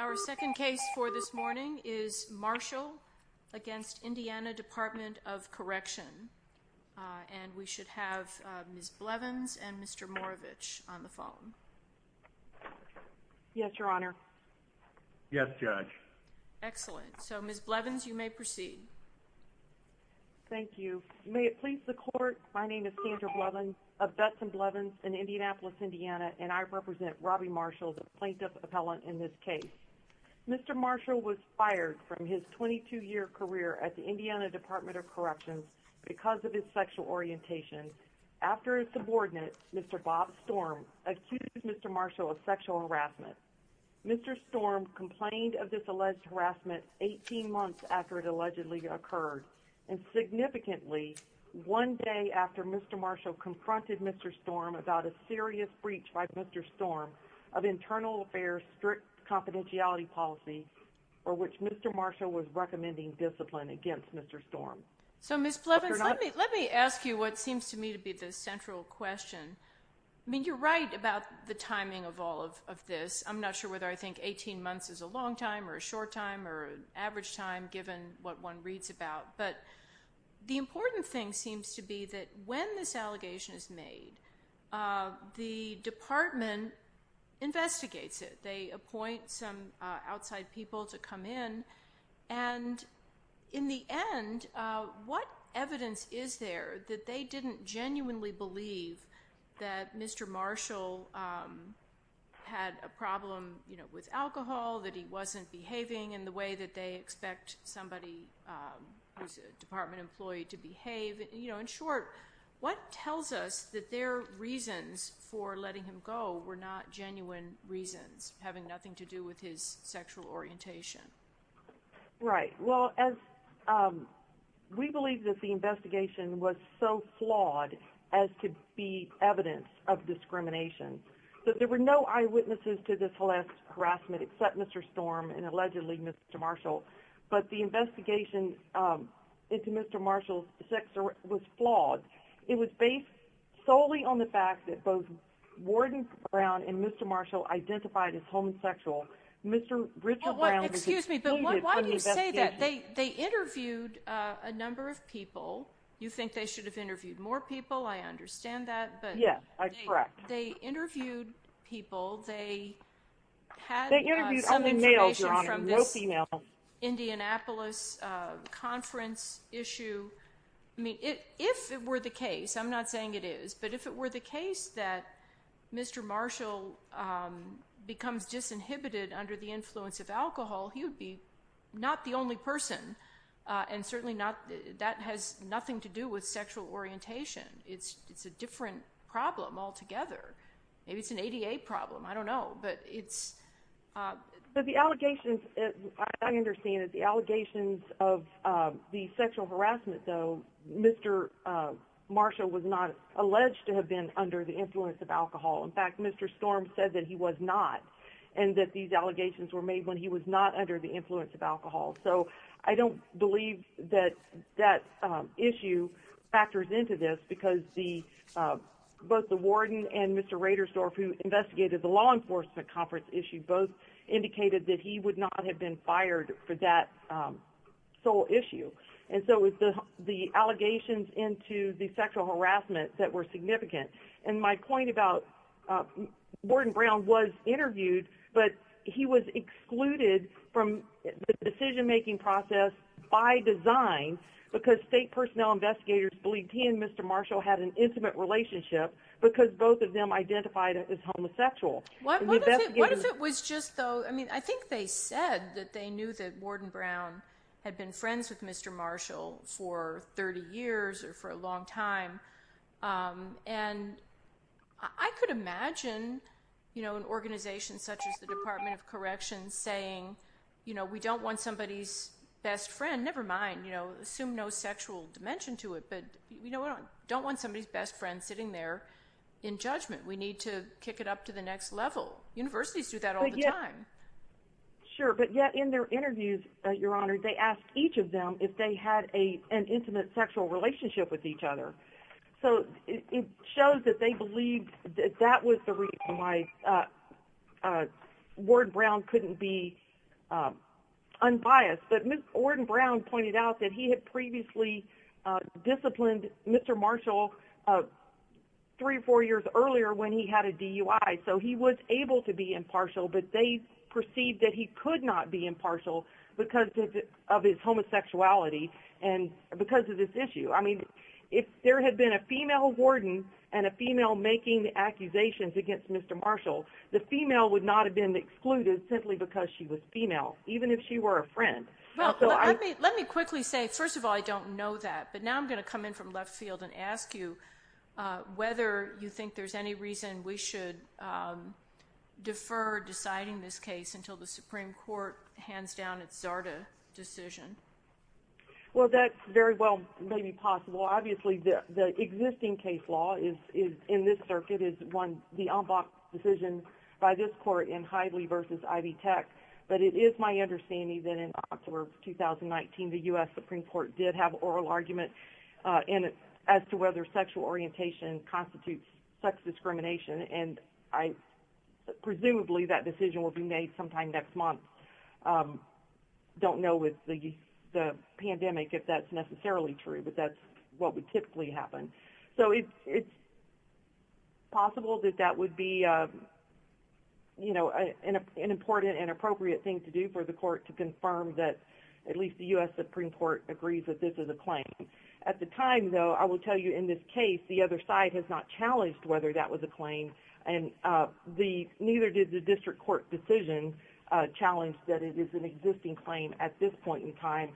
Our second case for this morning is Marshall v. Indiana Department of Correction and we should have Ms. Blevins and Mr. Moravich on the phone. Yes, Your Honor. Yes, Judge. Excellent. So, Ms. Blevins, you may proceed. Thank you. May it please the Court, my name is Sandra Blevins of Dutton Blevins in Indianapolis, Indiana, and I represent Robby Marshall, the plaintiff appellant in this case. Mr. Marshall was fired from his 22-year career at the Indiana Department of Correction because of his sexual orientation after his subordinate, Mr. Bob Storm, accused Mr. Marshall of sexual harassment. Mr. Storm complained of this alleged harassment 18 months after it allegedly occurred and significantly one day after Mr. Marshall confronted Mr. Storm about a serious breach by Mr. Storm of internal affairs strict confidentiality policy for which Mr. Marshall was recommending discipline against Mr. Storm. So Ms. Blevins, let me ask you what seems to me to be the central question. I mean, you're right about the timing of all of this. I'm not sure whether I think 18 months is a long time or a short time or an average time given what one reads about. But the important thing seems to be that when this allegation is made, the department investigates it. They appoint some outside people to come in and in the end, what evidence is there that they didn't genuinely believe that Mr. Marshall had a problem with alcohol, that he wasn't behaving in the way that they expect somebody who's a department employee to behave? You know, in short, what tells us that their reasons for letting him go were not genuine reasons, having nothing to do with his sexual orientation? Right. Well, as we believe that the investigation was so flawed as to be evidence of discrimination. So there were no eyewitnesses to this harassment except Mr. Storm and allegedly Mr. Marshall. But the investigation into Mr. Marshall's sex was flawed. It was based solely on the fact that both Warden Brown and Mr. Marshall identified as Mr. Richard Brown was excluded from the investigation. Well, excuse me, but why do you say that? They interviewed a number of people. You think they should have interviewed more people. I understand that. Yes, correct. They interviewed people. They had some information from this Indianapolis conference issue. If it were the case, I'm not saying it is, but if it were the case that Mr. Marshall becomes disinhibited under the influence of alcohol, he would be not the only person. And certainly that has nothing to do with sexual orientation. It's a different problem altogether. Maybe it's an ADA problem. I don't know. But it's... But the allegations, I understand that the allegations of the sexual harassment, though, Mr. Marshall was not alleged to have been under the influence of alcohol. In fact, Mr. Storm said that he was not and that these allegations were made when he was not under the influence of alcohol. So I don't believe that that issue factors into this because both the warden and Mr. Radersdorf, who investigated the law enforcement conference issue, both indicated that he would not have been fired for that sole issue. And so it was the allegations into the sexual harassment that were significant. And my point about... Warden Brown was interviewed, but he was excluded from the decision-making process by design because state personnel investigators believed he and Mr. Marshall had an intimate relationship because both of them identified as homosexual. What if it was just, though... I mean, I think they said that they knew that Warden Brown had been friends with Mr. Marshall for 30 years or for a long time. And I could imagine, you know, an organization such as the Department of Corrections saying, you know, we don't want somebody's best friend... Never mind, you know, assume no sexual dimension to it, but we don't want somebody's best friend sitting there in judgment. We need to kick it up to the next level. Universities do that all the time. Sure, but yet in their interviews, Your Honor, they asked each of them if they had an intimate sexual relationship with each other. So it shows that they believed that that was the reason why Warden Brown couldn't be unbiased. But Warden Brown pointed out that he had previously disciplined Mr. Marshall three or four years earlier when he had a DUI. So he was able to be impartial, but they perceived that he could not be impartial because of his homosexuality and because of this issue. I mean, if there had been a female warden and a female making the accusations against Mr. Marshall, the female would not have been excluded simply because she was female, even if she were a friend. Let me quickly say, first of all, I don't know that. But now I'm going to come in from left field and ask you whether you think there's any reason we should defer deciding this case until the Supreme Court hands down its Zarda decision. Well, that very well may be possible. Obviously, the existing case law in this circuit is the unblocked decision by this court in Heidley v. Ivy Tech. But it is my understanding that in October of 2019, the U.S. Supreme Court did have an oral argument as to whether sexual orientation constitutes sex discrimination. And presumably that decision will be made sometime next month. I don't know with the pandemic if that's necessarily true, but that's what would typically happen. So it's possible that that would be an important and appropriate thing to do for the court to confirm that at least the U.S. Supreme Court agrees that this is a claim. At the time, though, I will tell you in this case, the other side has not challenged whether that was a claim. And neither did the district court decision challenge that it is an existing claim at this point in time.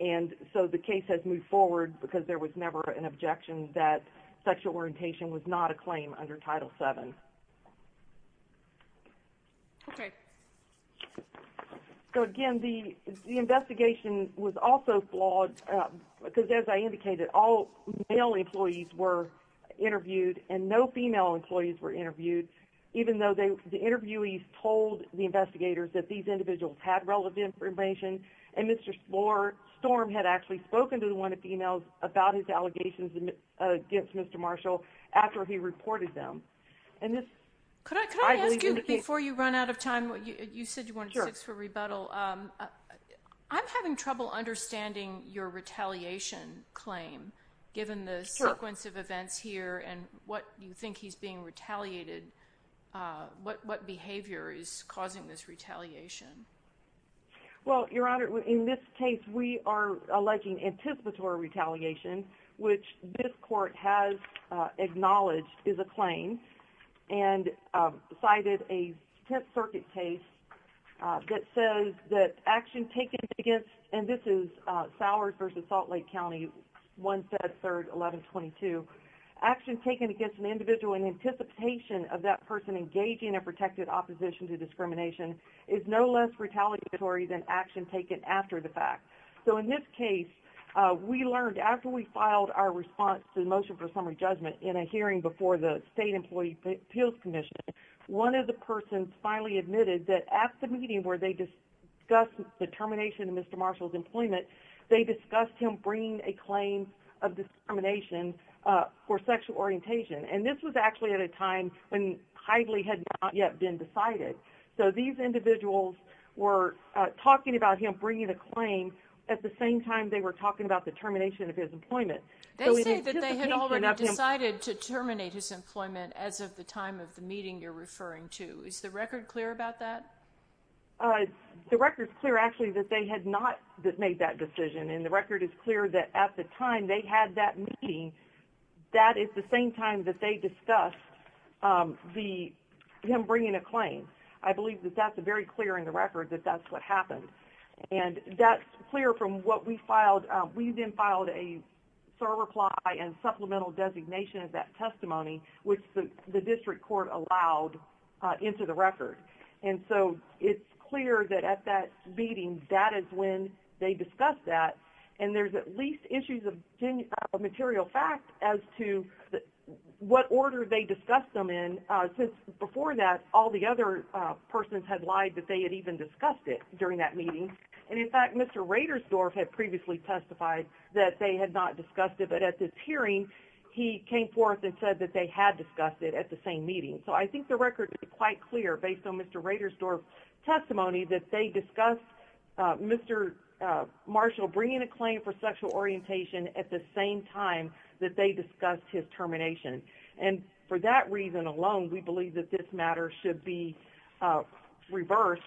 And so the case has moved forward because there was never an objection that sexual orientation was not a claim under Title VII. Okay. So, again, the investigation was also flawed because, as I indicated, all male employees were interviewed and no female employees were interviewed, even though the interviewees told the investigators that these individuals had relevant information. And Mr. Storm had actually spoken to one of the females about his allegations against Mr. Marshall after he reported them. Could I ask you, before you run out of time, you said you wanted to ask for rebuttal. I'm having trouble understanding your retaliation claim, given the sequence of events here and what you think he's being retaliated. What behavior is causing this retaliation? Well, Your Honor, in this case, we are alleging anticipatory retaliation, which this court has acknowledged is a claim and cited a Tenth Circuit case that says that action taken against, and this is Sowers v. Salt Lake County, 173-1122, action taken against an individual in anticipation of that person engaging in protected opposition to discrimination is no less retaliatory than action taken after the fact. So, in this case, we learned, after we filed our response to the motion for summary judgment in a hearing before the State Employee Appeals Commission, one of the persons finally admitted that at the meeting where they discussed the termination of Mr. Marshall's employment, they discussed him bringing a claim of discrimination for sexual orientation, and this was actually at a time when highly had not yet been decided. So, these individuals were talking about him bringing a claim at the same time they were talking about the termination of his employment. They say that they had already decided to terminate his employment as of the time of the meeting you're referring to. Is the record clear about that? The record is clear, actually, that they had not made that decision, and the record is clear that at the time they had that meeting, that is the same time that they discussed him bringing a claim. I believe that that's very clear in the record that that's what happened. And that's clear from what we filed. We then filed a SOAR reply and supplemental designation of that testimony, which the district court allowed into the record. And so it's clear that at that meeting, that is when they discussed that, and there's at least issues of material fact as to what order they discussed him in, since before that all the other persons had lied that they had even discussed it during that meeting. And, in fact, Mr. Radersdorf had previously testified that they had not discussed it, but at this hearing he came forth and said that they had discussed it at the same meeting. So I think the record is quite clear, based on Mr. Radersdorf's testimony, that they discussed Mr. Marshall bringing a claim for sexual orientation at the same time that they discussed his termination. And for that reason alone, we believe that this matter should be reversed,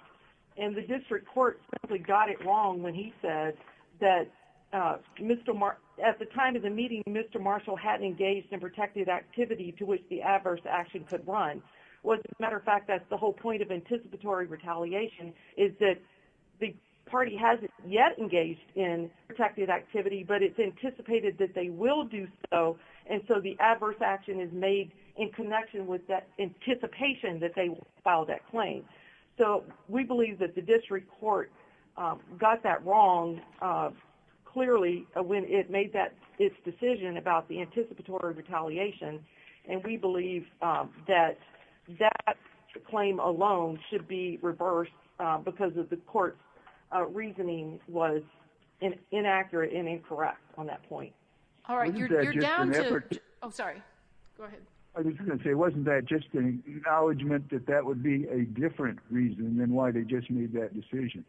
and the district court simply got it wrong when he said that at the time of the meeting, Mr. Marshall hadn't engaged in protective activity to which the adverse action could run. As a matter of fact, that's the whole point of anticipatory retaliation, is that the party hasn't yet engaged in protective activity, but it's anticipated that they will do so, and so the adverse action is made in connection with that anticipation that they will file that claim. So we believe that the district court got that wrong, clearly, when it made its decision about the anticipatory retaliation, and we believe that that claim alone should be reversed because the court's reasoning was inaccurate and incorrect on that point. All right. You're down to... Oh, sorry. Go ahead. I was going to say, wasn't that just an acknowledgment that that would be a different reason than why they just made that decision?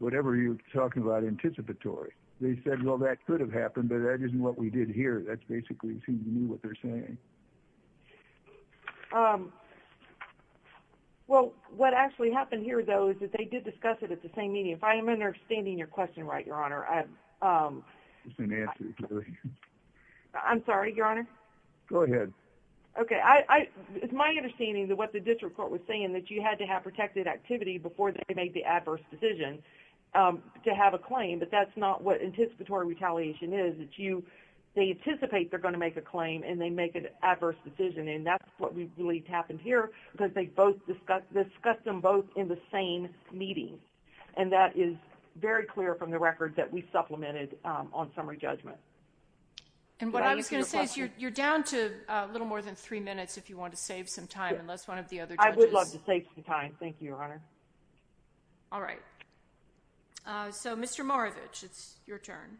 Whatever you're talking about anticipatory. They said, well, that could have happened, but that isn't what we did here. That's basically who knew what they're saying. Well, what actually happened here, though, is that they did discuss it at the same meeting. If I'm understanding your question right, Your Honor, I'm sorry, Your Honor. Go ahead. Okay. It's my understanding that what the district court was saying, that you had to have protective activity before they made the adverse decision to have a claim, but that's not what anticipatory retaliation is. They anticipate they're going to make a claim, and they make an adverse decision, and that's what we believe happened here because they discussed them both in the same meeting, and that is very clear from the record that we supplemented on summary judgment. And what I was going to say is you're down to a little more than three minutes if you want to save some time, unless one of the other judges... I would love to save some time. Thank you, Your Honor. All right. So, Mr. Moravich, it's your turn.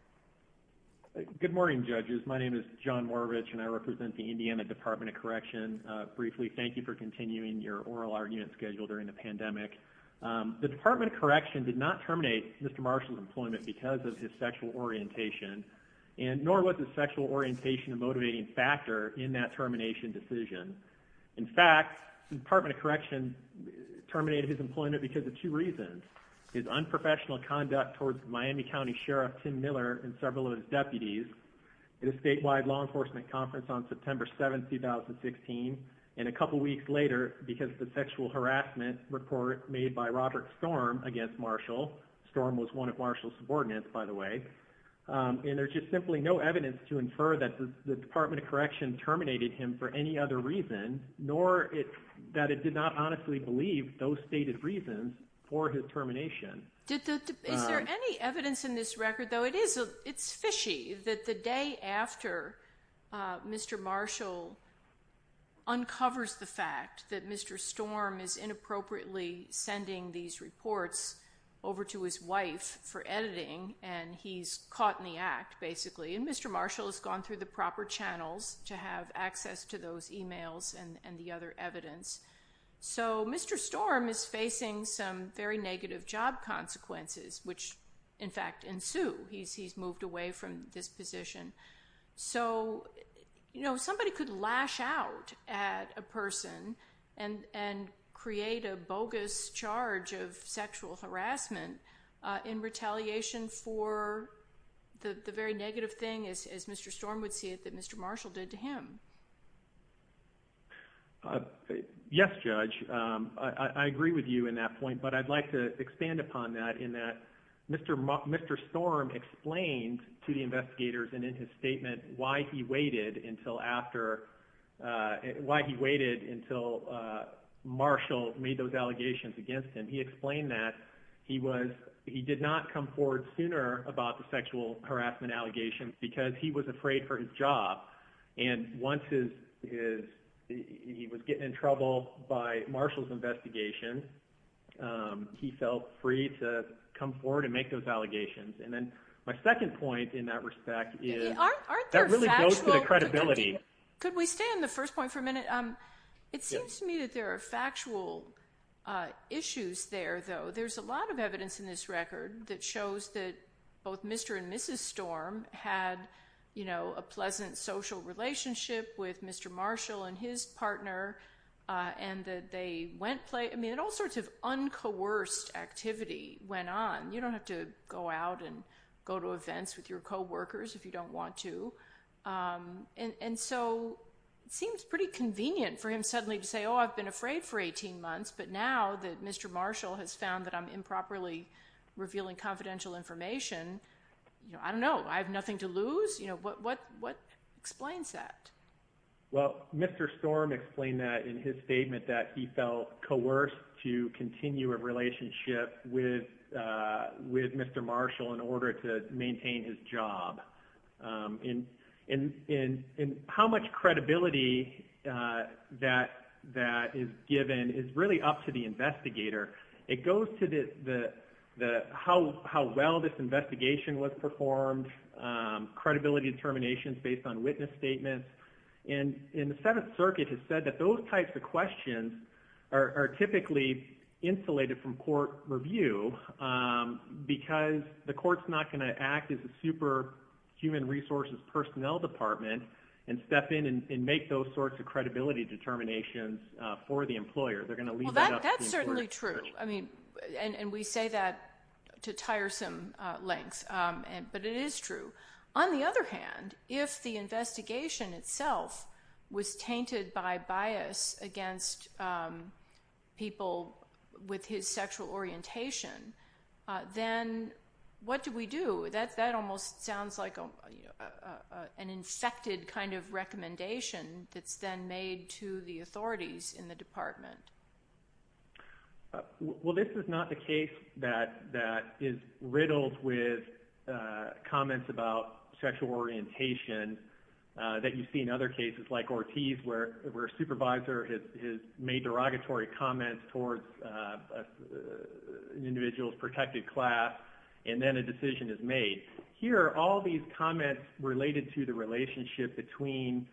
Good morning, judges. My name is John Moravich, and I represent the Indiana Department of Correction. Briefly, thank you for continuing your oral argument schedule during the pandemic. The Department of Correction did not terminate Mr. Marshall's employment because of his sexual orientation, nor was his sexual orientation a motivating factor in that termination decision. In fact, the Department of Correction terminated his employment because of two reasons. His unprofessional conduct towards Miami County Sheriff Tim Miller and several of his deputies at a statewide law enforcement conference on September 7, 2016, and a couple weeks later because of the sexual harassment report made by Robert Storm against Marshall. Storm was one of Marshall's subordinates, by the way. And there's just simply no evidence to infer that the Department of Correction terminated him for any other reason, nor that it did not honestly believe those stated reasons for his termination. Is there any evidence in this record, though? It's fishy that the day after Mr. Marshall uncovers the fact that Mr. Storm is inappropriately sending these reports over to his wife for editing and he's caught in the act, basically, and Mr. Marshall has gone through the proper channels to have access to those e-mails and the other evidence. So Mr. Storm is facing some very negative job consequences, which, in fact, ensue. He's moved away from this position. So somebody could lash out at a person and create a bogus charge of sexual harassment in retaliation for the very negative thing, as Mr. Storm would see it, that Mr. Marshall did to him. Yes, Judge. I agree with you in that point, but I'd like to expand upon that in that Mr. Storm explained to the investigators and in his statement why he waited until Marshall made those allegations against him. He explained that he did not come forward sooner about the sexual harassment allegations because he was afraid for his job. And once he was getting in trouble by Marshall's investigation, he felt free to come forward and make those allegations. And then my second point in that respect is that really goes to the credibility. Could we stay on the first point for a minute? It seems to me that there are factual issues there, though. There's a lot of evidence in this record that shows that both Mr. and Mrs. Storm had a pleasant social relationship with Mr. Marshall and his partner, and that all sorts of uncoerced activity went on. You don't have to go out and go to events with your coworkers if you don't want to. And so it seems pretty convenient for him suddenly to say, oh, I've been afraid for 18 months, but now that Mr. Marshall has found that I'm improperly revealing confidential information, I don't know, I have nothing to lose. What explains that? Well, Mr. Storm explained that in his statement that he felt coerced to continue a relationship with Mr. Marshall in order to maintain his job. And how much credibility that is given is really up to the investigator. It goes to how well this investigation was performed, credibility determinations based on witness statements. And the Seventh Circuit has said that those types of questions are typically insulated from court review because the court's not going to act as a super human resources personnel department and step in and make those sorts of credibility determinations for the employer. They're going to leave that up to the court. Well, that's certainly true, and we say that to tiresome lengths, but it is true. On the other hand, if the investigation itself was tainted by bias against people with his sexual orientation, then what do we do? That almost sounds like an infected kind of recommendation that's then made to the authorities in the department. Well, this is not the case that is riddled with comments about sexual orientation that you see in other cases like Ortiz, where a supervisor has made derogatory comments towards an individual's protected class, and then a decision is made. Here, all these comments related to the relationship between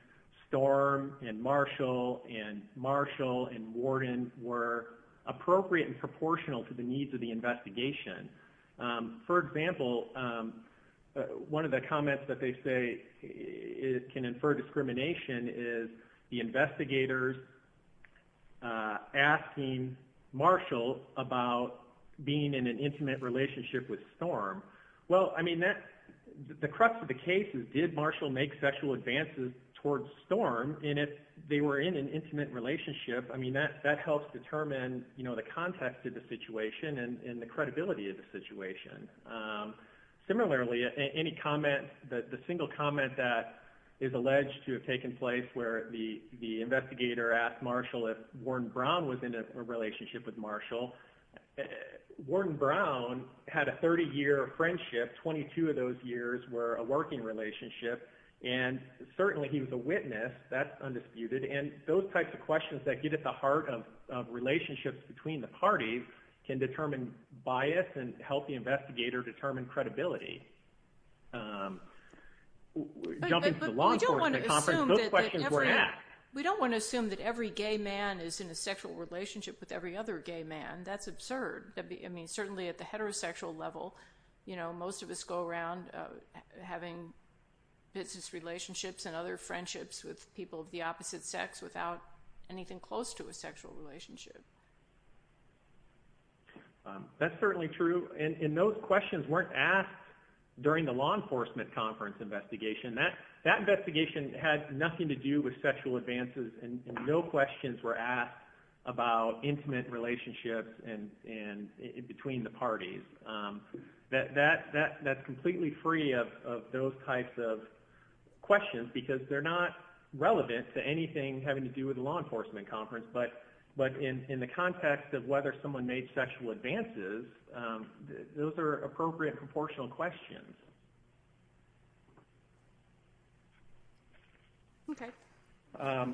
Storm and Marshall and Marshall and Worden were appropriate and proportional to the needs of the investigation. For example, one of the comments that they say can infer discrimination is the investigators asking Marshall about being in an intimate relationship with Storm. Well, the crux of the case is did Marshall make sexual advances towards Storm, and if they were in an intimate relationship, that helps determine the context of the situation and the credibility of the situation. Similarly, any comment, the single comment that is alleged to have taken place where the investigator asked Marshall if Worden Brown was in a relationship with Marshall, Worden Brown had a 30-year friendship, 22 of those years were a working relationship, and certainly he was a witness, that's undisputed, and those types of questions that get at the heart of relationships between the parties can determine bias and help the investigator determine credibility. We don't want to assume that every gay man is in a sexual relationship with every other gay man, that's absurd. Certainly at the heterosexual level, most of us go around having business relationships and other friendships with people of the opposite sex without anything close to a sexual relationship. That's certainly true, and those questions weren't asked during the law enforcement conference investigation. That investigation had nothing to do with sexual advances and no questions were asked about intimate relationships between the parties. That's completely free of those types of questions because they're not relevant to anything having to do with the law enforcement conference, but in the context of whether someone made sexual advances, those are appropriate proportional questions. I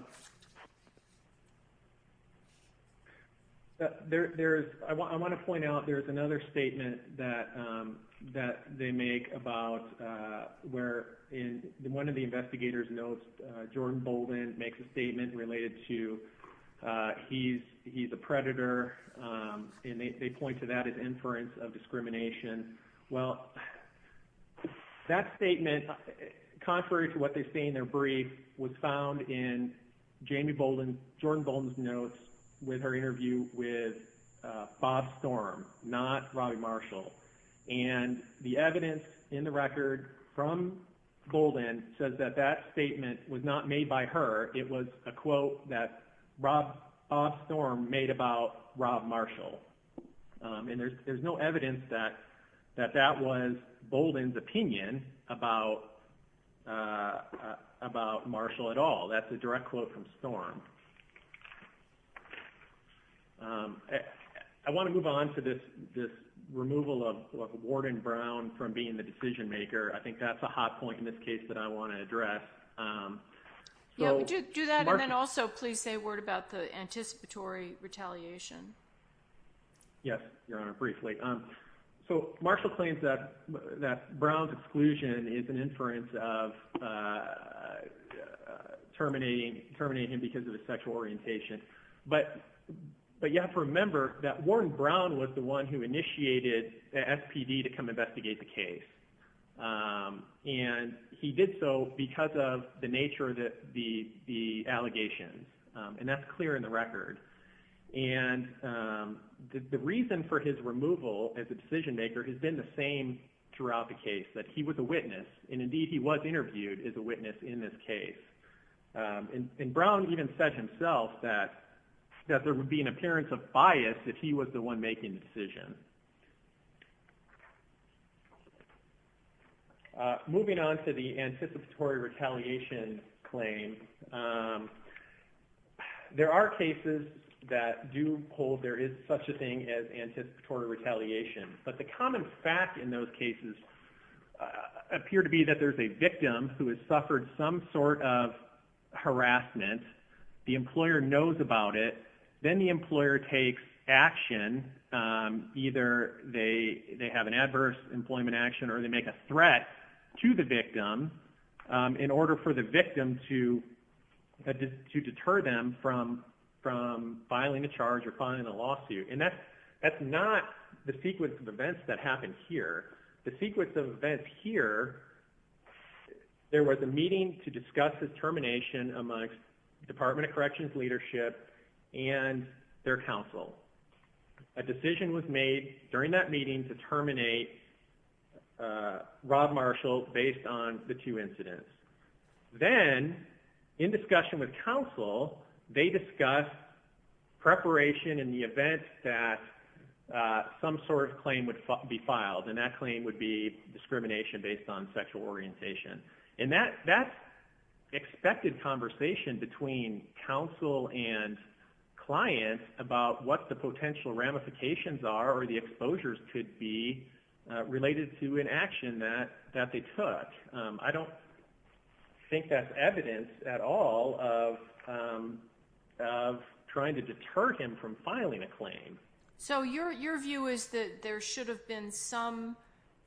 want to point out there's another statement that they make about where one of the investigators knows Jordan Bolden makes a statement related to he's a predator, and they point to that as inference of discrimination. Well, that statement, contrary to what they say in their brief, was found in Jordan Bolden's notes with her interview with Bob Storm, not Robbie Marshall. The evidence in the record from Bolden says that that statement was not made by her. It was a quote that Robb Storm made about Robb Marshall, and there's no evidence that that was Bolden's opinion about Marshall at all. That's a direct quote from Storm. I want to move on to this removal of Warden Brown from being the decision maker. I think that's a hot point in this case that I want to address. Yeah, do that, and then also please say a word about the anticipatory retaliation. Yes, Your Honor, briefly. Marshall claims that Brown's exclusion is an inference of terminating him because of his sexual orientation, but you have to remember that Warden Brown was the one who initiated the SPD to come investigate the case, and he did so because of the nature of the allegations, and that's clear in the record. The reason for his removal as a decision maker has been the same throughout the case, that he was a witness, and indeed he was interviewed as a witness in this case. Brown even said himself that there would be an appearance of bias if he was the one making the decision. Moving on to the anticipatory retaliation claim, there are cases that do hold there is such a thing as anticipatory retaliation, but the common fact in those cases appear to be that there's a victim who has suffered some sort of harassment. The employer knows about it. Then the employer takes action, either they have an adverse employment action or they make a threat to the victim in order for the victim to deter them from filing a charge or filing a lawsuit, and that's not the sequence of events that happened here. The sequence of events here, there was a meeting to discuss the termination amongst Department of Corrections leadership and their counsel. A decision was made during that meeting to terminate Rob Marshall based on the two incidents. Then in discussion with counsel, they discussed preparation in the event that some sort of claim would be filed, and that claim would be discrimination based on sexual orientation. That's expected conversation between counsel and client about what the potential ramifications are or the exposures could be related to an action that they took. I don't think that's evidence at all of trying to deter him from filing a claim. So your view is that there should have been some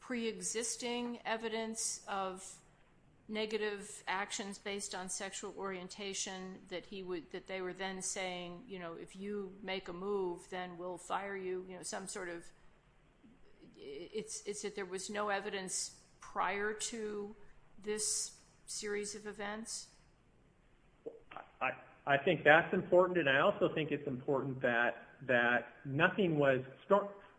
preexisting evidence of negative actions based on sexual orientation that they were then saying, you know, if you make a move, then we'll fire you, you know, some sort of... It's that there was no evidence prior to this series of events? I think that's important, and I also think it's important that nothing was...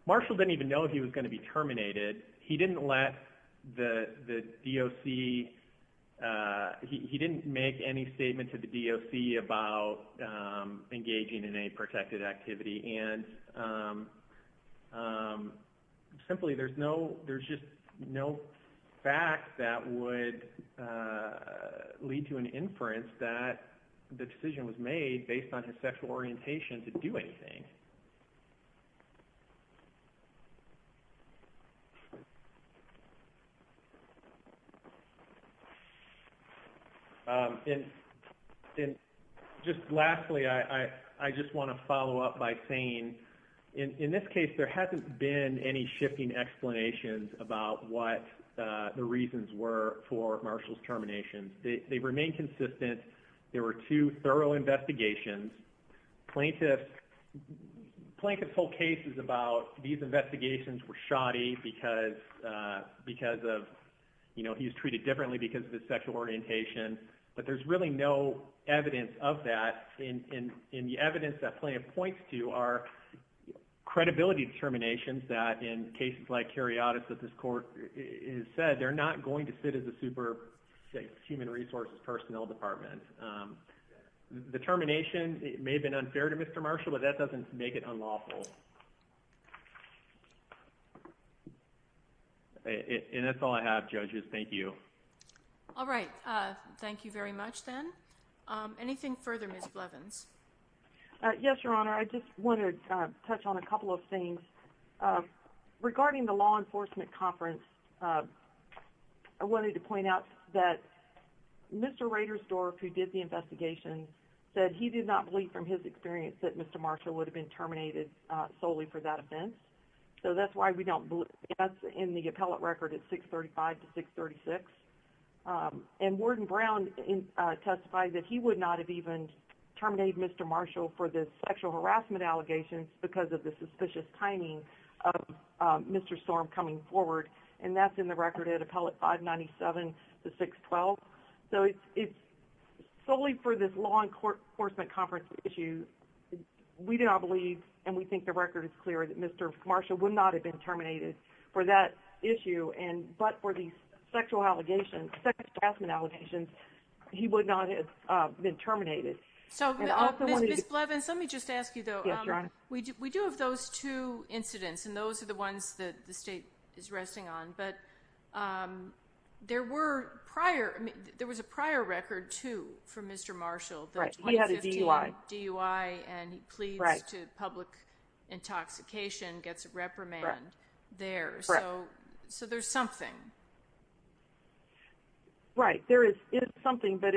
Marshall didn't even know if he was going to be terminated. He didn't let the DOC... He didn't make any statement to the DOC about engaging in any protected activity, and simply there's just no fact that would lead to an inference that the decision was made based on his sexual orientation to do anything. And just lastly, I just want to follow up by saying, in this case, there hasn't been any shifting explanations about what the reasons were for Marshall's termination. They remain consistent. There were two thorough investigations. Plaintiff's whole case is about these investigations were shoddy because of, you know, he was treated differently because of his sexual orientation, but there's really no evidence of that, and the evidence that Plaintiff points to are credibility determinations that, in cases like Cariadis that this court has said, they're not going to fit as a super, say, human resources personnel department. The termination may have been unfair to Mr. Marshall, but that doesn't make it unlawful. And that's all I have, judges. Thank you. All right. Thank you very much, then. Anything further, Ms. Blevins? Yes, Your Honor. I just want to touch on a couple of things. Regarding the law enforcement conference, I wanted to point out that Mr. Raderstorff, who did the investigation, said he did not believe from his experience that Mr. Marshall would have been terminated solely for that offense, so that's why we don't believe that's in the appellate record at 635 to 636. And Warden Brown testified that he would not have even terminated Mr. Marshall for the sexual harassment allegations because of the suspicious timing of Mr. Storm coming forward, and that's in the record at appellate 597 to 612. So it's solely for this law enforcement conference issue. We do not believe, and we think the record is clear, that Mr. Marshall would not have been terminated for that issue, but for these sexual harassment allegations, he would not have been terminated. Ms. Blevins, let me just ask you, though. Yes, Your Honor. We do have those two incidents, and those are the ones that the state is resting on, but there was a prior record, too, for Mr. Marshall, the 2015 DUI, and he pleads to public intoxication, gets reprimand there. Correct. So there's something. Right. There is something, but,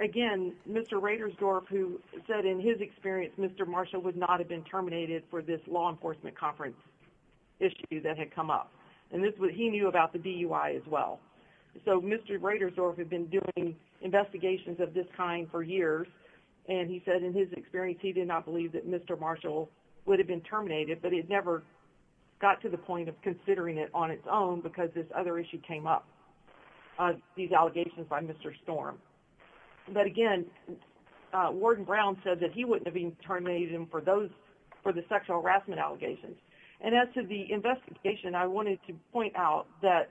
again, Mr. Raidersdorf, who said in his experience Mr. Marshall would not have been terminated for this law enforcement conference issue that had come up, and he knew about the DUI as well. So Mr. Raidersdorf had been doing investigations of this kind for years, and he said in his experience he did not believe that Mr. Marshall would have been terminated, but he had never got to the point of considering it on its own because this other issue came up, these allegations by Mr. Storm. But, again, Warden Brown said that he wouldn't have been terminated for the sexual harassment allegations. And as to the investigation, I wanted to point out that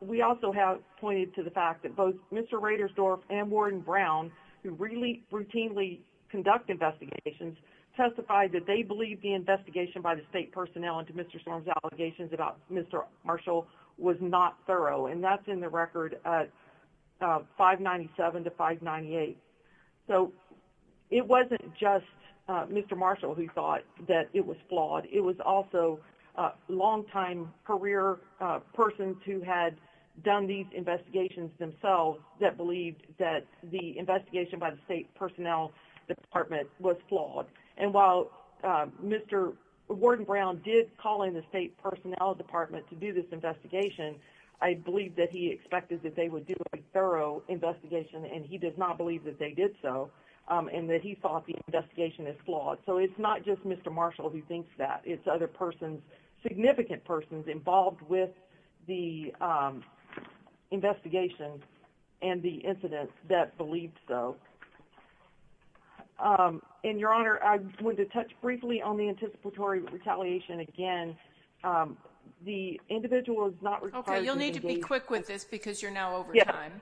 we also have pointed to the fact that both Mr. Raidersdorf and Warden Brown, who routinely conduct investigations, testified that they believed the investigation by the state personnel into Mr. Storm's allegations about Mr. Marshall was not thorough, and that's in the record 597 to 598. So it wasn't just Mr. Marshall who thought that it was flawed. It was also longtime career persons who had done these investigations themselves that believed that the investigation by the state personnel department was flawed. And while Mr. Warden Brown did call in the state personnel department to do this investigation, I believe that he expected that they would do a thorough investigation, and he does not believe that they did so, and that he thought the investigation is flawed. So it's not just Mr. Marshall who thinks that. It's other persons, significant persons involved with the investigation and the incidents that believed so. And, Your Honor, I wanted to touch briefly on the anticipatory retaliation again. The individual is not required to engage in any kind of protected activity. Okay, you'll need to be quick with this because you're now over time.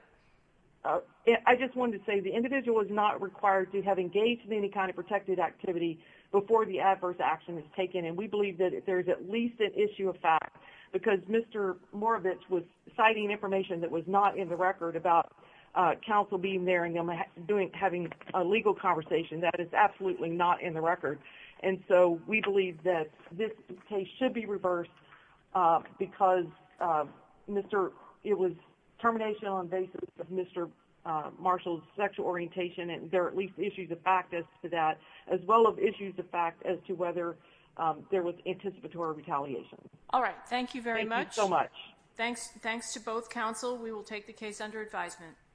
I just wanted to say the individual is not required to have engaged in any kind of protected activity before the adverse action is taken, and we believe that there's at least an issue of fact because Mr. Moravich was citing information that was not in the record about counsel being there and having a legal conversation. And so we believe that this case should be reversed because it was termination on the basis of Mr. Marshall's sexual orientation, and there are at least issues of fact as to that as well as issues of fact as to whether there was anticipatory retaliation. All right. Thank you very much. Thank you so much. Thanks to both counsel. We will take the case under advisement.